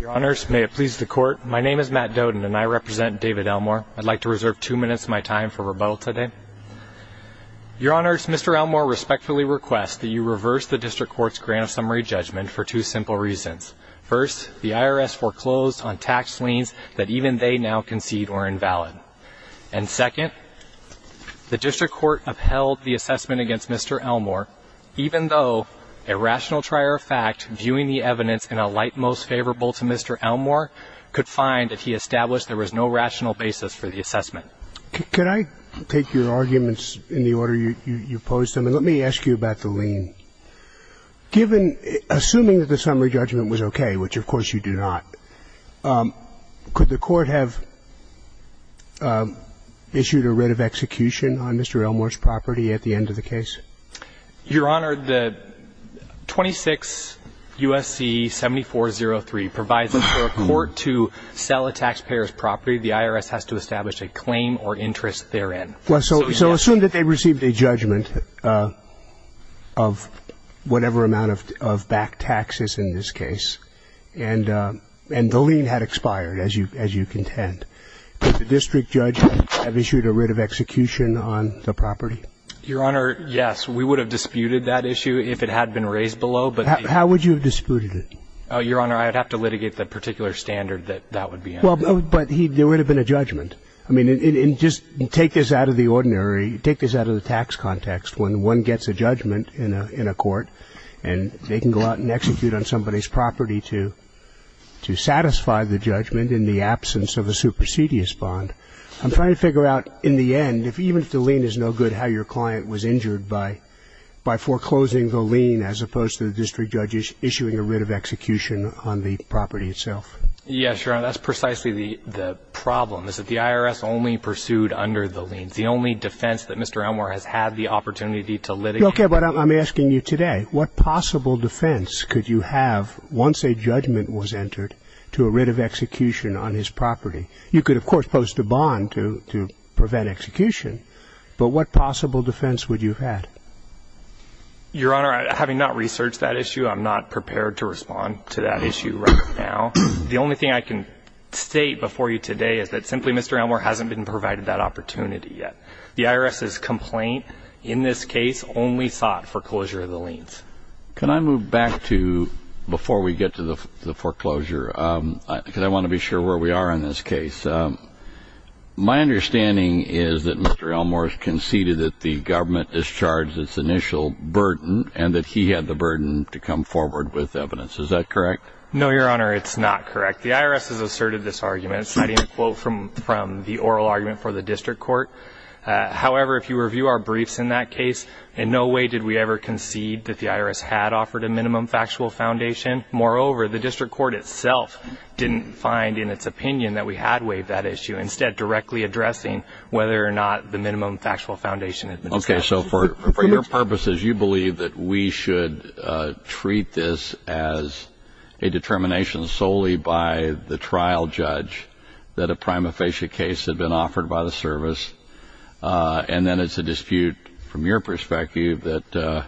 Your Honors, may it please the Court, my name is Matt Doden and I represent David Elmore. I'd like to reserve two minutes of my time for rebuttal today. Your Honors, Mr. Elmore respectfully requests that you reverse the District Court's grant of summary judgment for two simple reasons. First, the IRS foreclosed on tax liens that even they now concede are invalid. And second, the District Court upheld the assessment against Mr. Elmore even though a rational trier of fact viewing the evidence in a light most favorable to Mr. Elmore could find that he established there was no rational basis for the assessment. Could I take your arguments in the order you posed them? And let me ask you about the lien. Assuming that the summary judgment was okay, which of course you do not, could the Court have issued a writ of execution on Mr. Elmore's property at the end of the case? Your Honor, the 26 U.S.C. 7403 provides for a court to sell a taxpayer's property. The IRS has to establish a claim or interest therein. So assume that they received a judgment of whatever amount of back taxes in this case and the lien had expired, as you contend. Did the District judge have issued a writ of execution on the property? Your Honor, yes. We would have disputed that issue if it had been raised below. How would you have disputed it? Your Honor, I would have to litigate the particular standard that that would be in. But there would have been a judgment. I mean, just take this out of the ordinary. Take this out of the tax context. When one gets a judgment in a court and they can go out and execute on somebody's property to satisfy the judgment in the absence of a supersedious bond, I'm trying to figure out in the end, even if the lien is no good, how your client was injured by foreclosing the lien as opposed to the District judge issuing a writ of execution on the property itself. Yes, Your Honor. That's precisely the problem, is that the IRS only pursued under the lien. It's the only defense that Mr. Elmore has had the opportunity to litigate. Okay. But I'm asking you today, what possible defense could you have once a judgment was entered to a writ of execution on his property? You could, of course, post a bond to prevent execution, but what possible defense would you have had? Your Honor, having not researched that issue, I'm not prepared to respond to that issue right now. The only thing I can state before you today is that simply Mr. Elmore hasn't been provided that opportunity yet. The IRS's complaint in this case only sought foreclosure of the liens. Can I move back to, before we get to the foreclosure, because I want to be sure where we are in this case, my understanding is that Mr. Elmore has conceded that the government discharged its initial burden and that he had the burden to come forward with evidence. Is that correct? No, Your Honor, it's not correct. The IRS has asserted this argument citing a quote from the oral argument for the District Court. However, if you review our briefs in that case, in no way did we ever concede that the IRS had offered a minimum factual foundation. Moreover, the District Court itself didn't find in its opinion that we had waived that issue, instead directly addressing whether or not the minimum factual foundation had been established. Okay, so for your purposes, you believe that we should treat this as a determination solely by the trial judge that a prima facie case had been offered by the service, and then it's a dispute from your perspective that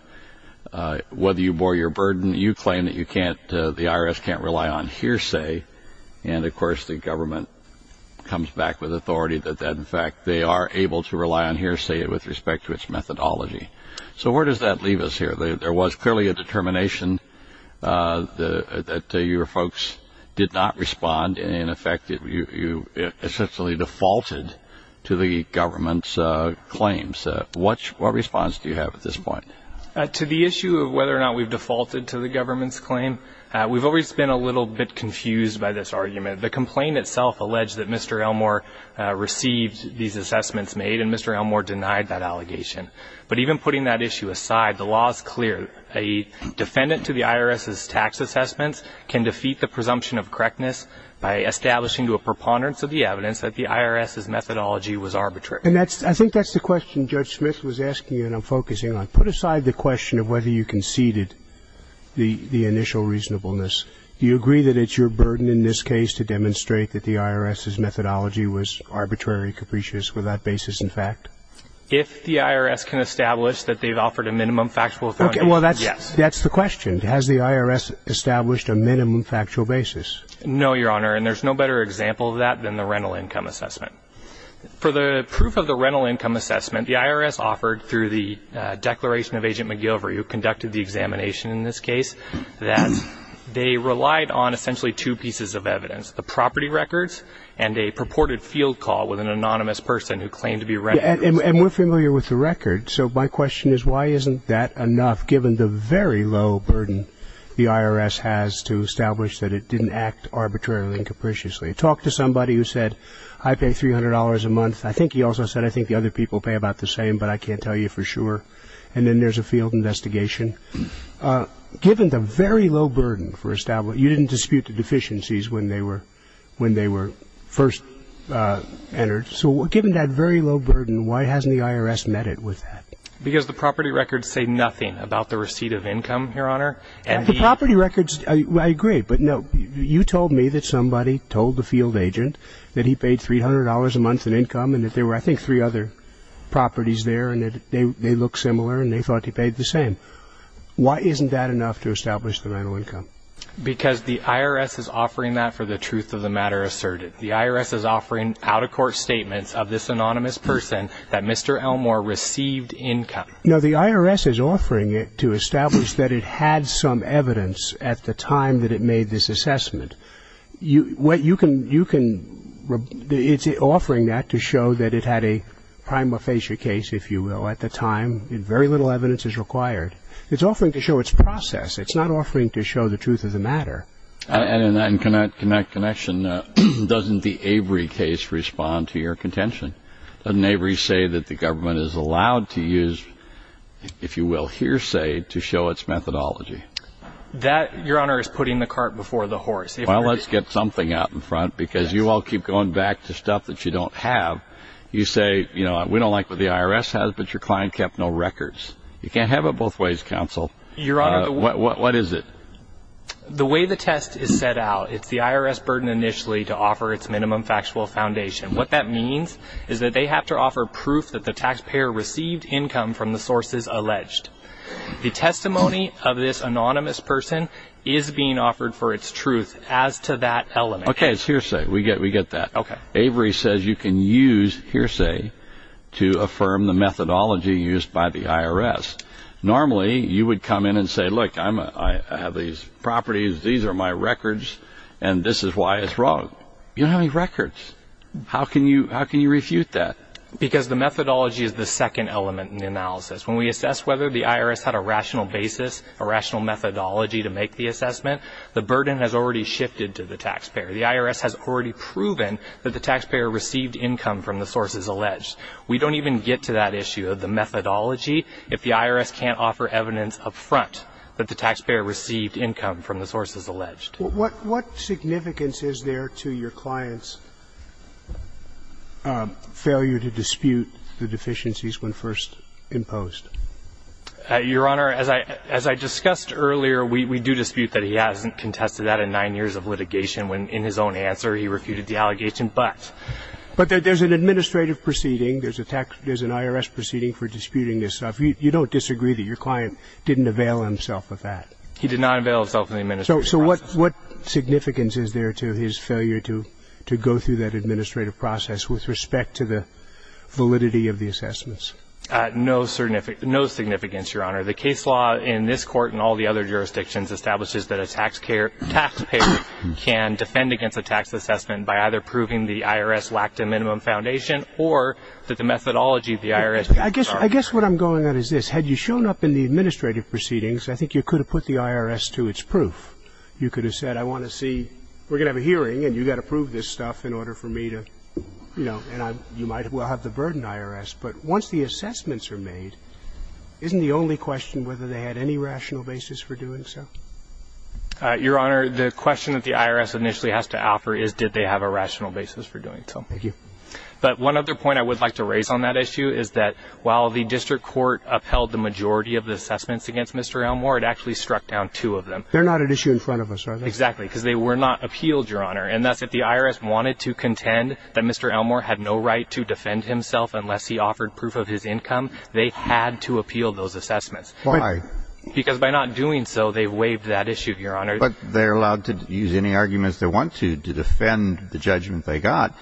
whether you bore your claim that the IRS can't rely on hearsay, and of course the government comes back with authority that in fact they are able to rely on hearsay with respect to its methodology. So where does that leave us here? There was clearly a determination that your folks did not respond, and in effect you essentially defaulted to the government's claims. What response do you have at this point? To the issue of whether or not we've defaulted to the government's claim, we've always been a little bit confused by this argument. The complaint itself alleged that Mr. Elmore received these assessments made, and Mr. Elmore denied that allegation. But even putting that issue aside, the law is clear. A defendant to the IRS's tax assessments can defeat the presumption of correctness by establishing to a preponderance of the evidence that the IRS's methodology was arbitrary. And I think that's the question Judge Smith was asking you and I'm focusing on. If you put aside the question of whether you conceded the initial reasonableness, do you agree that it's your burden in this case to demonstrate that the IRS's methodology was arbitrary, capricious, with that basis in fact? If the IRS can establish that they've offered a minimum factual authority, yes. That's the question. Has the IRS established a minimum factual basis? No, Your Honor, and there's no better example of that than the rental income assessment. For the proof of the rental income assessment, the IRS offered through the declaration of Agent McGilvery, who conducted the examination in this case, that they relied on essentially two pieces of evidence, the property records and a purported field call with an anonymous person who claimed to be a renter. And we're familiar with the record, so my question is why isn't that enough given the very low burden the IRS has to establish that it didn't act arbitrarily and capriciously? Talk to somebody who said, I pay $300 a month. I think he also said, I think the other people pay about the same, but I can't tell you for sure. And then there's a field investigation. Given the very low burden for establishing, you didn't dispute the deficiencies when they were first entered. So given that very low burden, why hasn't the IRS met it with that? Because the property records say nothing about the receipt of income, Your Honor. The property records, I agree. But, no, you told me that somebody told the field agent that he paid $300 a month in income and that there were, I think, three other properties there and that they look similar and they thought he paid the same. Why isn't that enough to establish the rental income? Because the IRS is offering that for the truth of the matter asserted. The IRS is offering out-of-court statements of this anonymous person that Mr. Elmore received income. No, the IRS is offering it to establish that it had some evidence at the time that it made this assessment. It's offering that to show that it had a prima facie case, if you will, at the time. Very little evidence is required. It's offering to show its process. It's not offering to show the truth of the matter. And in that connection, doesn't the Avery case respond to your contention? Doesn't Avery say that the government is allowed to use, if you will, hearsay, to show its methodology? That, Your Honor, is putting the cart before the horse. Well, let's get something out in front because you all keep going back to stuff that you don't have. You say, you know, we don't like what the IRS has, but your client kept no records. You can't have it both ways, counsel. What is it? The way the test is set out, it's the IRS burden initially to offer its minimum factual foundation. What that means is that they have to offer proof that the taxpayer received income from the sources alleged. The testimony of this anonymous person is being offered for its truth as to that element. Okay, it's hearsay. We get that. Avery says you can use hearsay to affirm the methodology used by the IRS. Normally, you would come in and say, look, I have these properties, these are my records, and this is why it's wrong. You don't have any records. How can you refute that? Because the methodology is the second element in the analysis. When we assess whether the IRS had a rational basis, a rational methodology to make the assessment, the burden has already shifted to the taxpayer. The IRS has already proven that the taxpayer received income from the sources alleged. We don't even get to that issue of the methodology if the IRS can't offer evidence up front that the taxpayer received income from the sources alleged. What significance is there to your client's failure to dispute the deficiencies when first imposed? Your Honor, as I discussed earlier, we do dispute that he hasn't contested that in nine years of litigation when, in his own answer, he refuted the allegation. But there's an administrative proceeding. There's an IRS proceeding for disputing this stuff. You don't disagree that your client didn't avail himself of that? He did not avail himself of the administrative process. So what significance is there to his failure to go through that administrative process with respect to the validity of the assessments? No significance, Your Honor. The case law in this Court and all the other jurisdictions establishes that a taxpayer can defend against a tax assessment by either proving the IRS lacked a minimum foundation or that the methodology of the IRS was wrong. I guess what I'm going at is this. Had you shown up in the administrative proceedings, I think you could have put the IRS to its proof. You could have said, I want to see we're going to have a hearing and you've got to prove this stuff in order for me to, you know, and you might well have the burden of the IRS. But once the assessments are made, isn't the only question whether they had any rational basis for doing so? Your Honor, the question that the IRS initially has to offer is, did they have a rational basis for doing so? Thank you. But one other point I would like to raise on that issue is that while the district court upheld the majority of the assessments against Mr. Elmore, it actually struck down two of them. They're not an issue in front of us, are they? Exactly, because they were not appealed, Your Honor. And that's if the IRS wanted to contend that Mr. Elmore had no right to defend himself unless he offered proof of his income, they had to appeal those assessments. Why? Because by not doing so, they waived that issue, Your Honor. But they're allowed to use any arguments they want to to defend the judgment they got.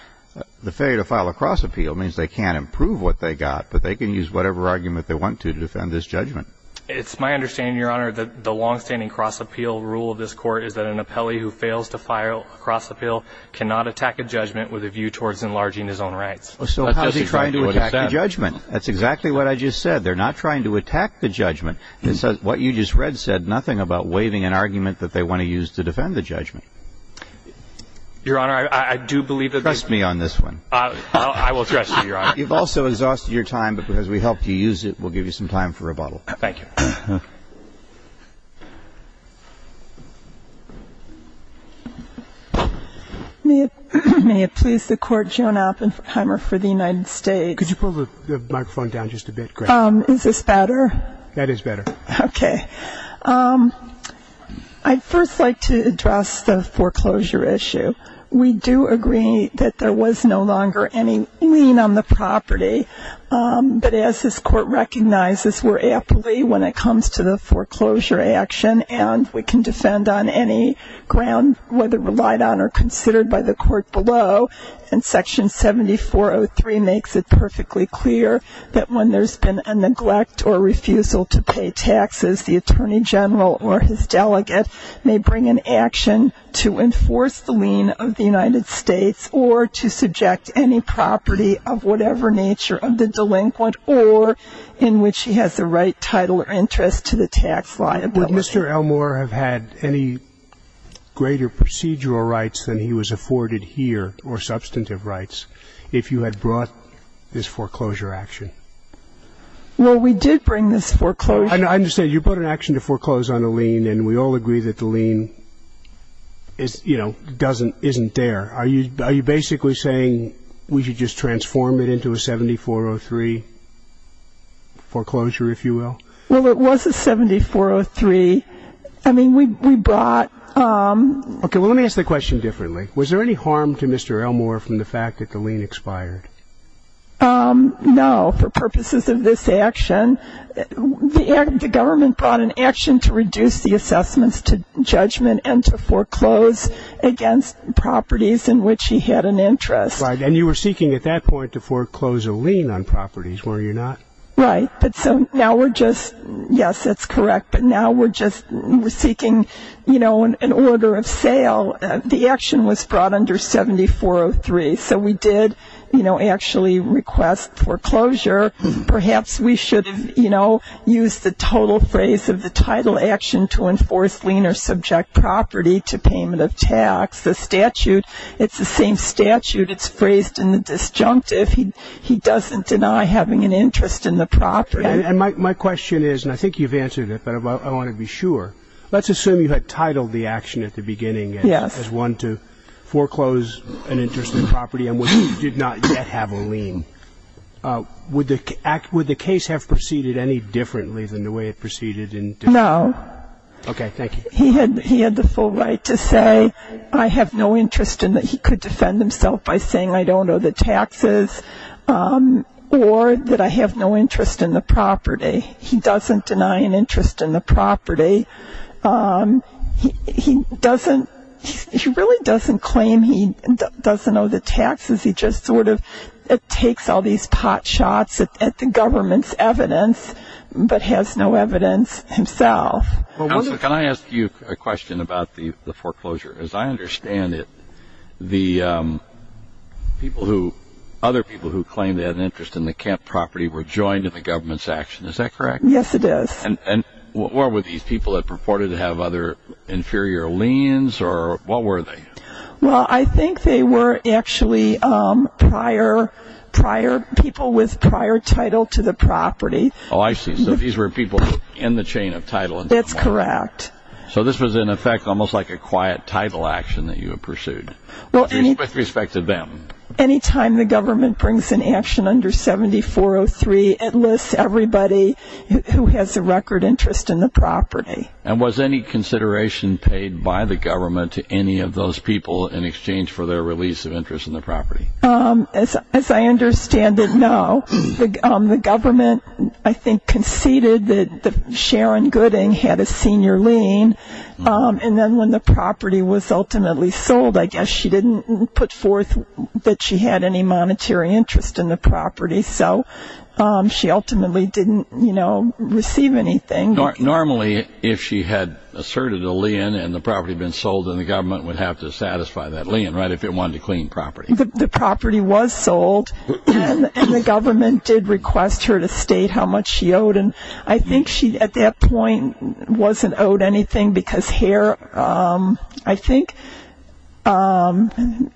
The failure to file a cross appeal means they can't improve what they got, but they can use whatever argument they want to to defend this judgment. It's my understanding, Your Honor, that the longstanding cross appeal rule of this court is that an appellee who fails to file a cross appeal cannot attack a judgment with a view towards enlarging his own rights. So how is he trying to attack the judgment? That's exactly what I just said. They're not trying to attack the judgment. What you just read said nothing about waiving an argument that they want to use to defend the judgment. Your Honor, I do believe that the ---- Trust me on this one. I will trust you, Your Honor. You've also exhausted your time, but because we helped you use it, we'll give you some time for rebuttal. Thank you. May it please the Court, Joan Oppenheimer for the United States. Could you pull the microphone down just a bit, please? Is this better? That is better. Okay. I'd first like to address the foreclosure issue. We do agree that there was no longer any lien on the property. But as this Court recognizes, we're appellee when it comes to the foreclosure action, and we can defend on any ground whether relied on or considered by the Court below, and Section 7403 makes it perfectly clear that when there's been a neglect or refusal to pay taxes, the Attorney General or his delegate may bring an action to enforce the lien of the United States or to subject any property of whatever nature of the delinquent or in which he has the right, title, or interest to the tax liability. Would Mr. Elmore have had any greater procedural rights than he was afforded here or substantive rights if you had brought this foreclosure action? Well, we did bring this foreclosure. I understand. You brought an action to foreclose on a lien, and we all agree that the lien is, you know, doesn't, isn't there. Are you basically saying we should just transform it into a 7403 foreclosure, if you will? Well, it was a 7403. I mean, we brought. Okay. Well, let me ask the question differently. Was there any harm to Mr. Elmore from the fact that the lien expired? No, for purposes of this action. The government brought an action to reduce the assessments to judgment and to foreclose against properties in which he had an interest. Right, and you were seeking at that point to foreclose a lien on properties, were you not? Right, but so now we're just, yes, that's correct, but now we're just seeking, you know, an order of sale. The action was brought under 7403, so we did, you know, actually request foreclosure. Perhaps we should have, you know, used the total phrase of the title action to enforce lien or subject property to payment of tax. The statute, it's the same statute. It's phrased in the disjunctive. He doesn't deny having an interest in the property. And my question is, and I think you've answered it, but I want to be sure. Let's assume you had titled the action at the beginning as one to foreclose an interest in property and you did not yet have a lien. Would the case have proceeded any differently than the way it proceeded in disjunctive? No. Okay, thank you. He had the full right to say, I have no interest in that he could defend himself by saying I don't owe the taxes or that I have no interest in the property. He doesn't deny an interest in the property. He really doesn't claim he doesn't owe the taxes. He just sort of takes all these pot shots at the government's evidence but has no evidence himself. Can I ask you a question about the foreclosure? As I understand it, the other people who claimed they had an interest in the camp property were joined in the government's action. Is that correct? Yes, it is. And were these people that purported to have other inferior liens or what were they? Well, I think they were actually people with prior title to the property. Oh, I see. So these were people in the chain of title. That's correct. So this was, in effect, almost like a quiet title action that you had pursued with respect to them. Anytime the government brings an action under 7403, it lists everybody who has a record interest in the property. And was any consideration paid by the government to any of those people in exchange for their release of interest in the property? As I understand it, no. The government, I think, conceded that Sharon Gooding had a senior lien, and then when the property was ultimately sold, I guess she didn't put forth that she had any monetary interest in the property. So she ultimately didn't receive anything. Normally, if she had asserted a lien and the property had been sold, then the government would have to satisfy that lien, right, if it wanted to clean property. The property was sold, and the government did request her to state how much she owed. And I think she, at that point, wasn't owed anything because Hare, I think,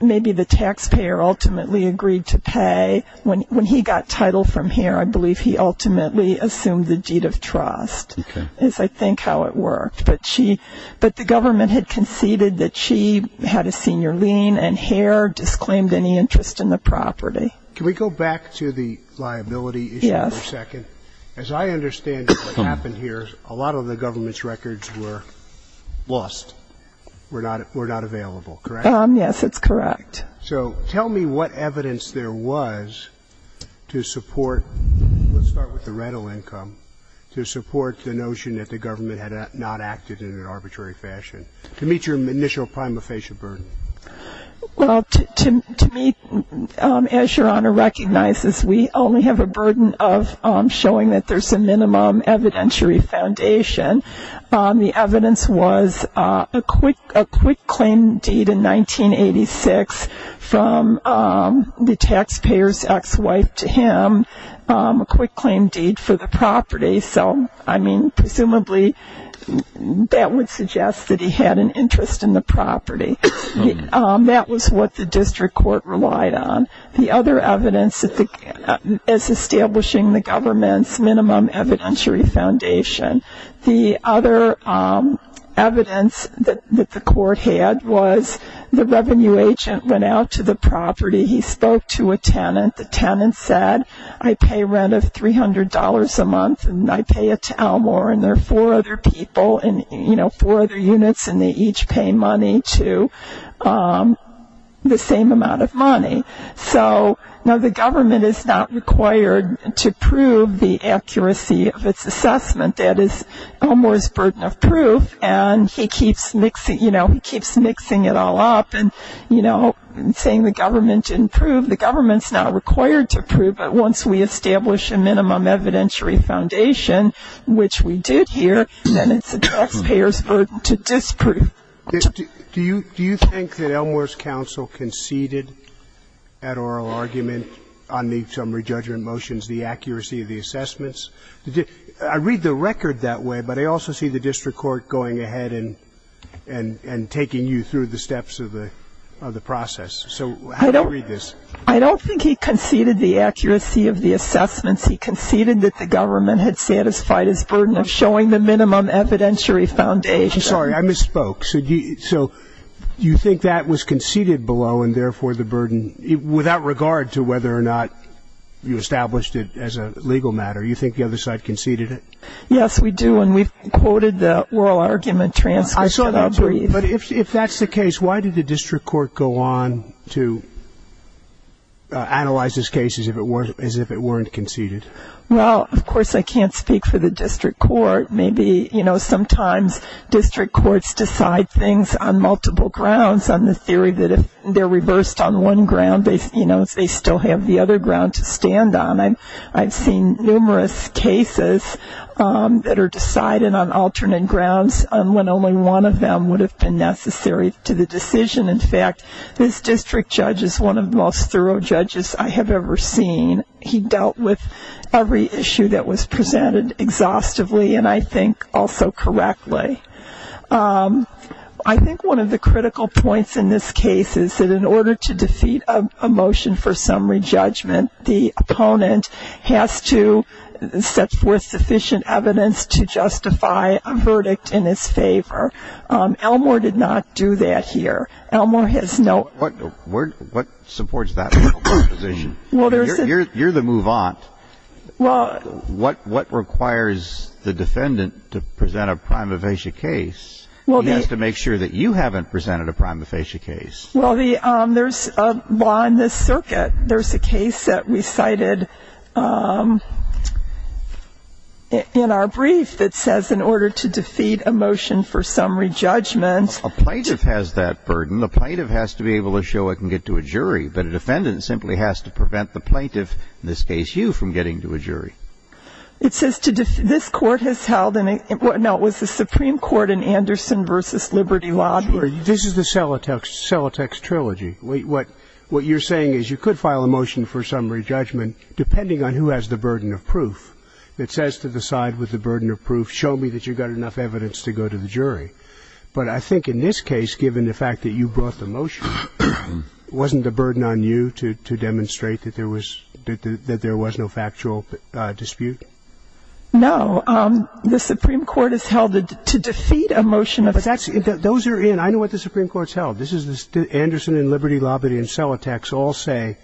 maybe the taxpayer ultimately agreed to pay. When he got title from Hare, I believe he ultimately assumed the deed of trust is, I think, how it worked. But the government had conceded that she had a senior lien, and Hare disclaimed any interest in the property. Can we go back to the liability issue for a second? Yes. As I understand it, what happened here, a lot of the government's records were lost, were not available, correct? Yes, that's correct. So tell me what evidence there was to support, let's start with the rental income, to support the notion that the government had not acted in an arbitrary fashion, to meet your initial prima facie burden. Well, to me, as Your Honor recognizes, we only have a burden of showing that there's a minimum evidentiary foundation. The evidence was a quick claim deed in 1986 from the taxpayer's ex-wife to him, presumably that would suggest that he had an interest in the property. That was what the district court relied on. The other evidence is establishing the government's minimum evidentiary foundation. The other evidence that the court had was the revenue agent went out to the property. He spoke to a tenant. The tenant said, I pay rent of $300 a month, and I pay it to Elmore, and there are four other people and four other units, and they each pay money to the same amount of money. So now the government is not required to prove the accuracy of its assessment. That is Elmore's burden of proof, and he keeps mixing it all up, and, you know, saying the government didn't prove. The government's not required to prove, but once we establish a minimum evidentiary foundation, which we did here, then it's the taxpayer's burden to disprove. Do you think that Elmore's counsel conceded at oral argument on the summary judgment motions the accuracy of the assessments? I read the record that way, but I also see the district court going ahead and taking you through the steps of the process. So how do you read this? I don't think he conceded the accuracy of the assessments. He conceded that the government had satisfied its burden of showing the minimum evidentiary foundation. Sorry, I misspoke. So you think that was conceded below and, therefore, the burden, without regard to whether or not you established it as a legal matter, you think the other side conceded it? Yes, we do, and we've quoted the oral argument transcript that I'll read. But if that's the case, why did the district court go on to analyze this case as if it weren't conceded? Well, of course, I can't speak for the district court. Maybe, you know, sometimes district courts decide things on multiple grounds, on the theory that if they're reversed on one ground, they still have the other ground to stand on. I've seen numerous cases that are decided on alternate grounds when only one of them would have been necessary to the decision. In fact, this district judge is one of the most thorough judges I have ever seen. He dealt with every issue that was presented exhaustively and I think also correctly. I think one of the critical points in this case is that in order to defeat a motion for summary judgment, the opponent has to set forth sufficient evidence to justify a verdict in his favor. Elmore did not do that here. Elmore has no... What supports that position? You're the move-on. What requires the defendant to present a prima facie case? He has to make sure that you haven't presented a prima facie case. Well, there's a law in this circuit. There's a case that we cited in our brief that says in order to defeat a motion for summary judgment... A plaintiff has that burden. The plaintiff has to be able to show it can get to a jury, but a defendant simply has to prevent the plaintiff, in this case you, from getting to a jury. It says this court has held... No, it was the Supreme Court in Anderson v. Liberty Law. This is the Celotex trilogy. What you're saying is you could file a motion for summary judgment depending on who has the burden of proof. It says to the side with the burden of proof, show me that you've got enough evidence to go to the jury. But I think in this case, given the fact that you brought the motion, wasn't the burden on you to demonstrate that there was no factual dispute? No. The Supreme Court has held that to defeat a motion of factual... Those are in. I know what the Supreme Court has held. Anderson v. Liberty Law v. Celotex all say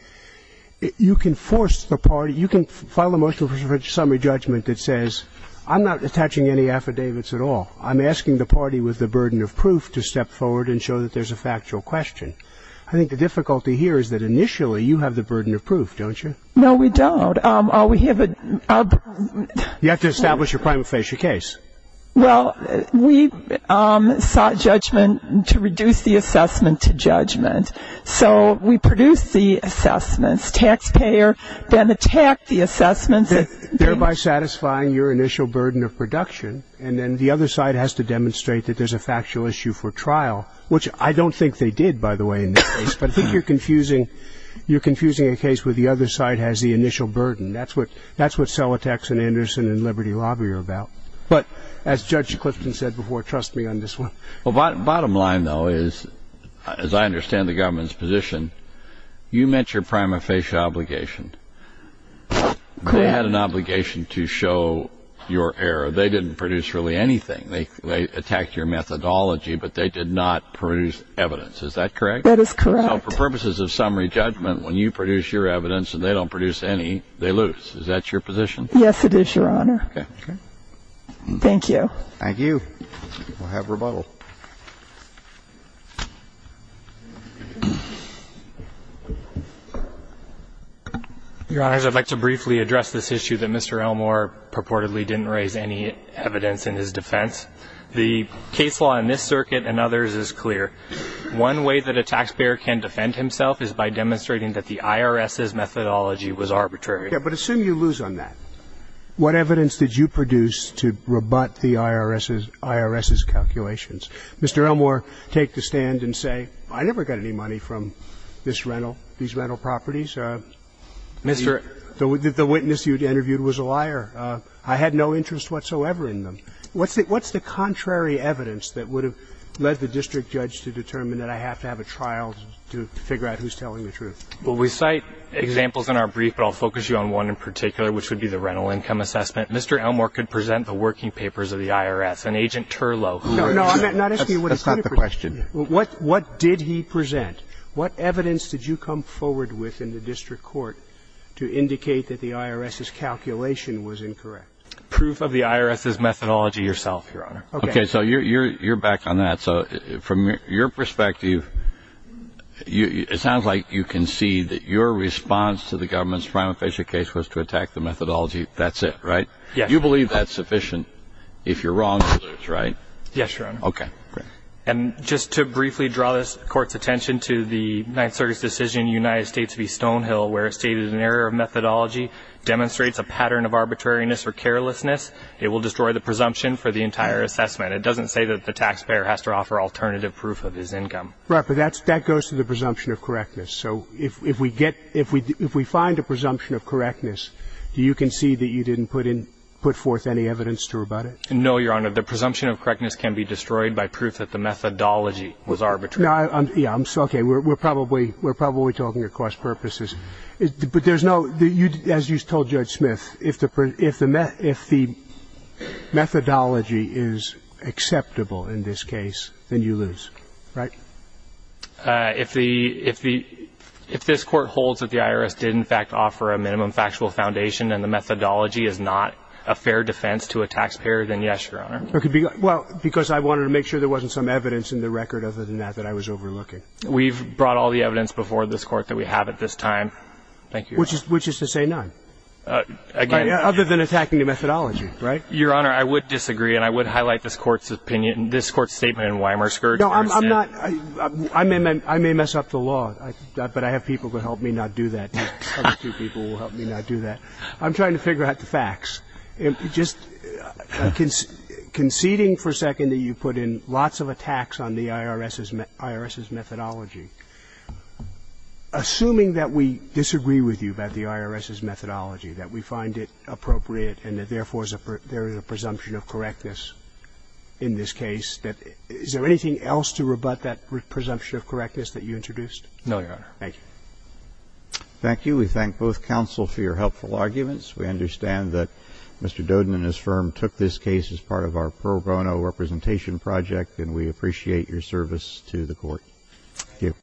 you can force the party. You can file a motion for summary judgment that says, I'm not attaching any affidavits at all. I'm asking the party with the burden of proof to step forward and show that there's a factual question. I think the difficulty here is that initially you have the burden of proof, don't you? No, we don't. We have a... You have to establish your claim and face your case. Well, we sought judgment to reduce the assessment to judgment. So we produced the assessments. Taxpayer then attacked the assessments. Thereby satisfying your initial burden of production, and then the other side has to demonstrate that there's a factual issue for trial, which I don't think they did, by the way, in this case. But I think you're confusing a case where the other side has the initial burden. That's what Celotex and Anderson and Liberty Law were about. But as Judge Clifton said before, trust me on this one. Well, bottom line, though, is, as I understand the government's position, you met your prima facie obligation. They had an obligation to show your error. They didn't produce really anything. They attacked your methodology, but they did not produce evidence. Is that correct? That is correct. So for purposes of summary judgment, when you produce your evidence and they don't produce any, they lose. Is that your position? Yes, it is, Your Honor. Okay. Thank you. We'll have rebuttal. Your Honors, I'd like to briefly address this issue that Mr. Elmore purportedly didn't raise any evidence in his defense. The case law in this circuit and others is clear. One way that a taxpayer can defend himself is by demonstrating that the IRS's methodology was arbitrary. Yes, but assume you lose on that. What evidence did you produce to rebut the IRS's calculations? Mr. Elmore, take the stand and say, I never got any money from this rental, these rental properties. Mr. The witness you interviewed was a liar. I had no interest whatsoever in them. What's the contrary evidence that would have led the district judge to determine that I have to have a trial to figure out who's telling the truth? Well, we cite examples in our brief, but I'll focus you on one in particular, which would be the rental income assessment. Mr. Elmore could present the working papers of the IRS and Agent Turlow. That's not the question. What did he present? What evidence did you come forward with in the district court to indicate that the IRS's calculation was incorrect? Proof of the IRS's methodology yourself, Your Honor. Okay. So you're back on that. So from your perspective, it sounds like you can see that your response to the IRS's methodology, that's it, right? Yes. You believe that's sufficient. If you're wrong, you lose, right? Yes, Your Honor. Okay. And just to briefly draw this Court's attention to the Ninth Circuit's decision in the United States v. Stonehill where it stated an error of methodology demonstrates a pattern of arbitrariness or carelessness, it will destroy the presumption for the entire assessment. It doesn't say that the taxpayer has to offer alternative proof of his income. Right. But that goes to the presumption of correctness. So if we get – if we find a presumption of correctness, do you concede that you didn't put in – put forth any evidence to rebut it? No, Your Honor. The presumption of correctness can be destroyed by proof that the methodology was arbitrary. No, I'm – yeah. I'm – okay. We're probably – we're probably talking across purposes. But there's no – as you told Judge Smith, if the methodology is acceptable in this case, then you lose, right? If the – if the – if this Court holds that the IRS did, in fact, offer a minimum factual foundation and the methodology is not a fair defense to a taxpayer, then yes, Your Honor. Well, because I wanted to make sure there wasn't some evidence in the record other than that that I was overlooking. We've brought all the evidence before this Court that we have at this time. Thank you, Your Honor. Which is to say none. Again – Other than attacking the methodology, right? Your Honor, I would disagree and I would highlight this Court's opinion – this Court's statement in Weimar Scourge. No, I'm not – I may mess up the law, but I have people who help me not do that. Other two people will help me not do that. I'm trying to figure out the facts. Just conceding for a second that you put in lots of attacks on the IRS's – IRS's methodology, assuming that we disagree with you about the IRS's methodology, that we find it appropriate and that, therefore, there is a presumption of correctness in this case that – is there anything else to rebut that presumption of correctness that you introduced? No, Your Honor. Thank you. Thank you. We thank both counsel for your helpful arguments. We understand that Mr. Dodin and his firm took this case as part of our pro bono representation project, and we appreciate your service to the Court. Thank you.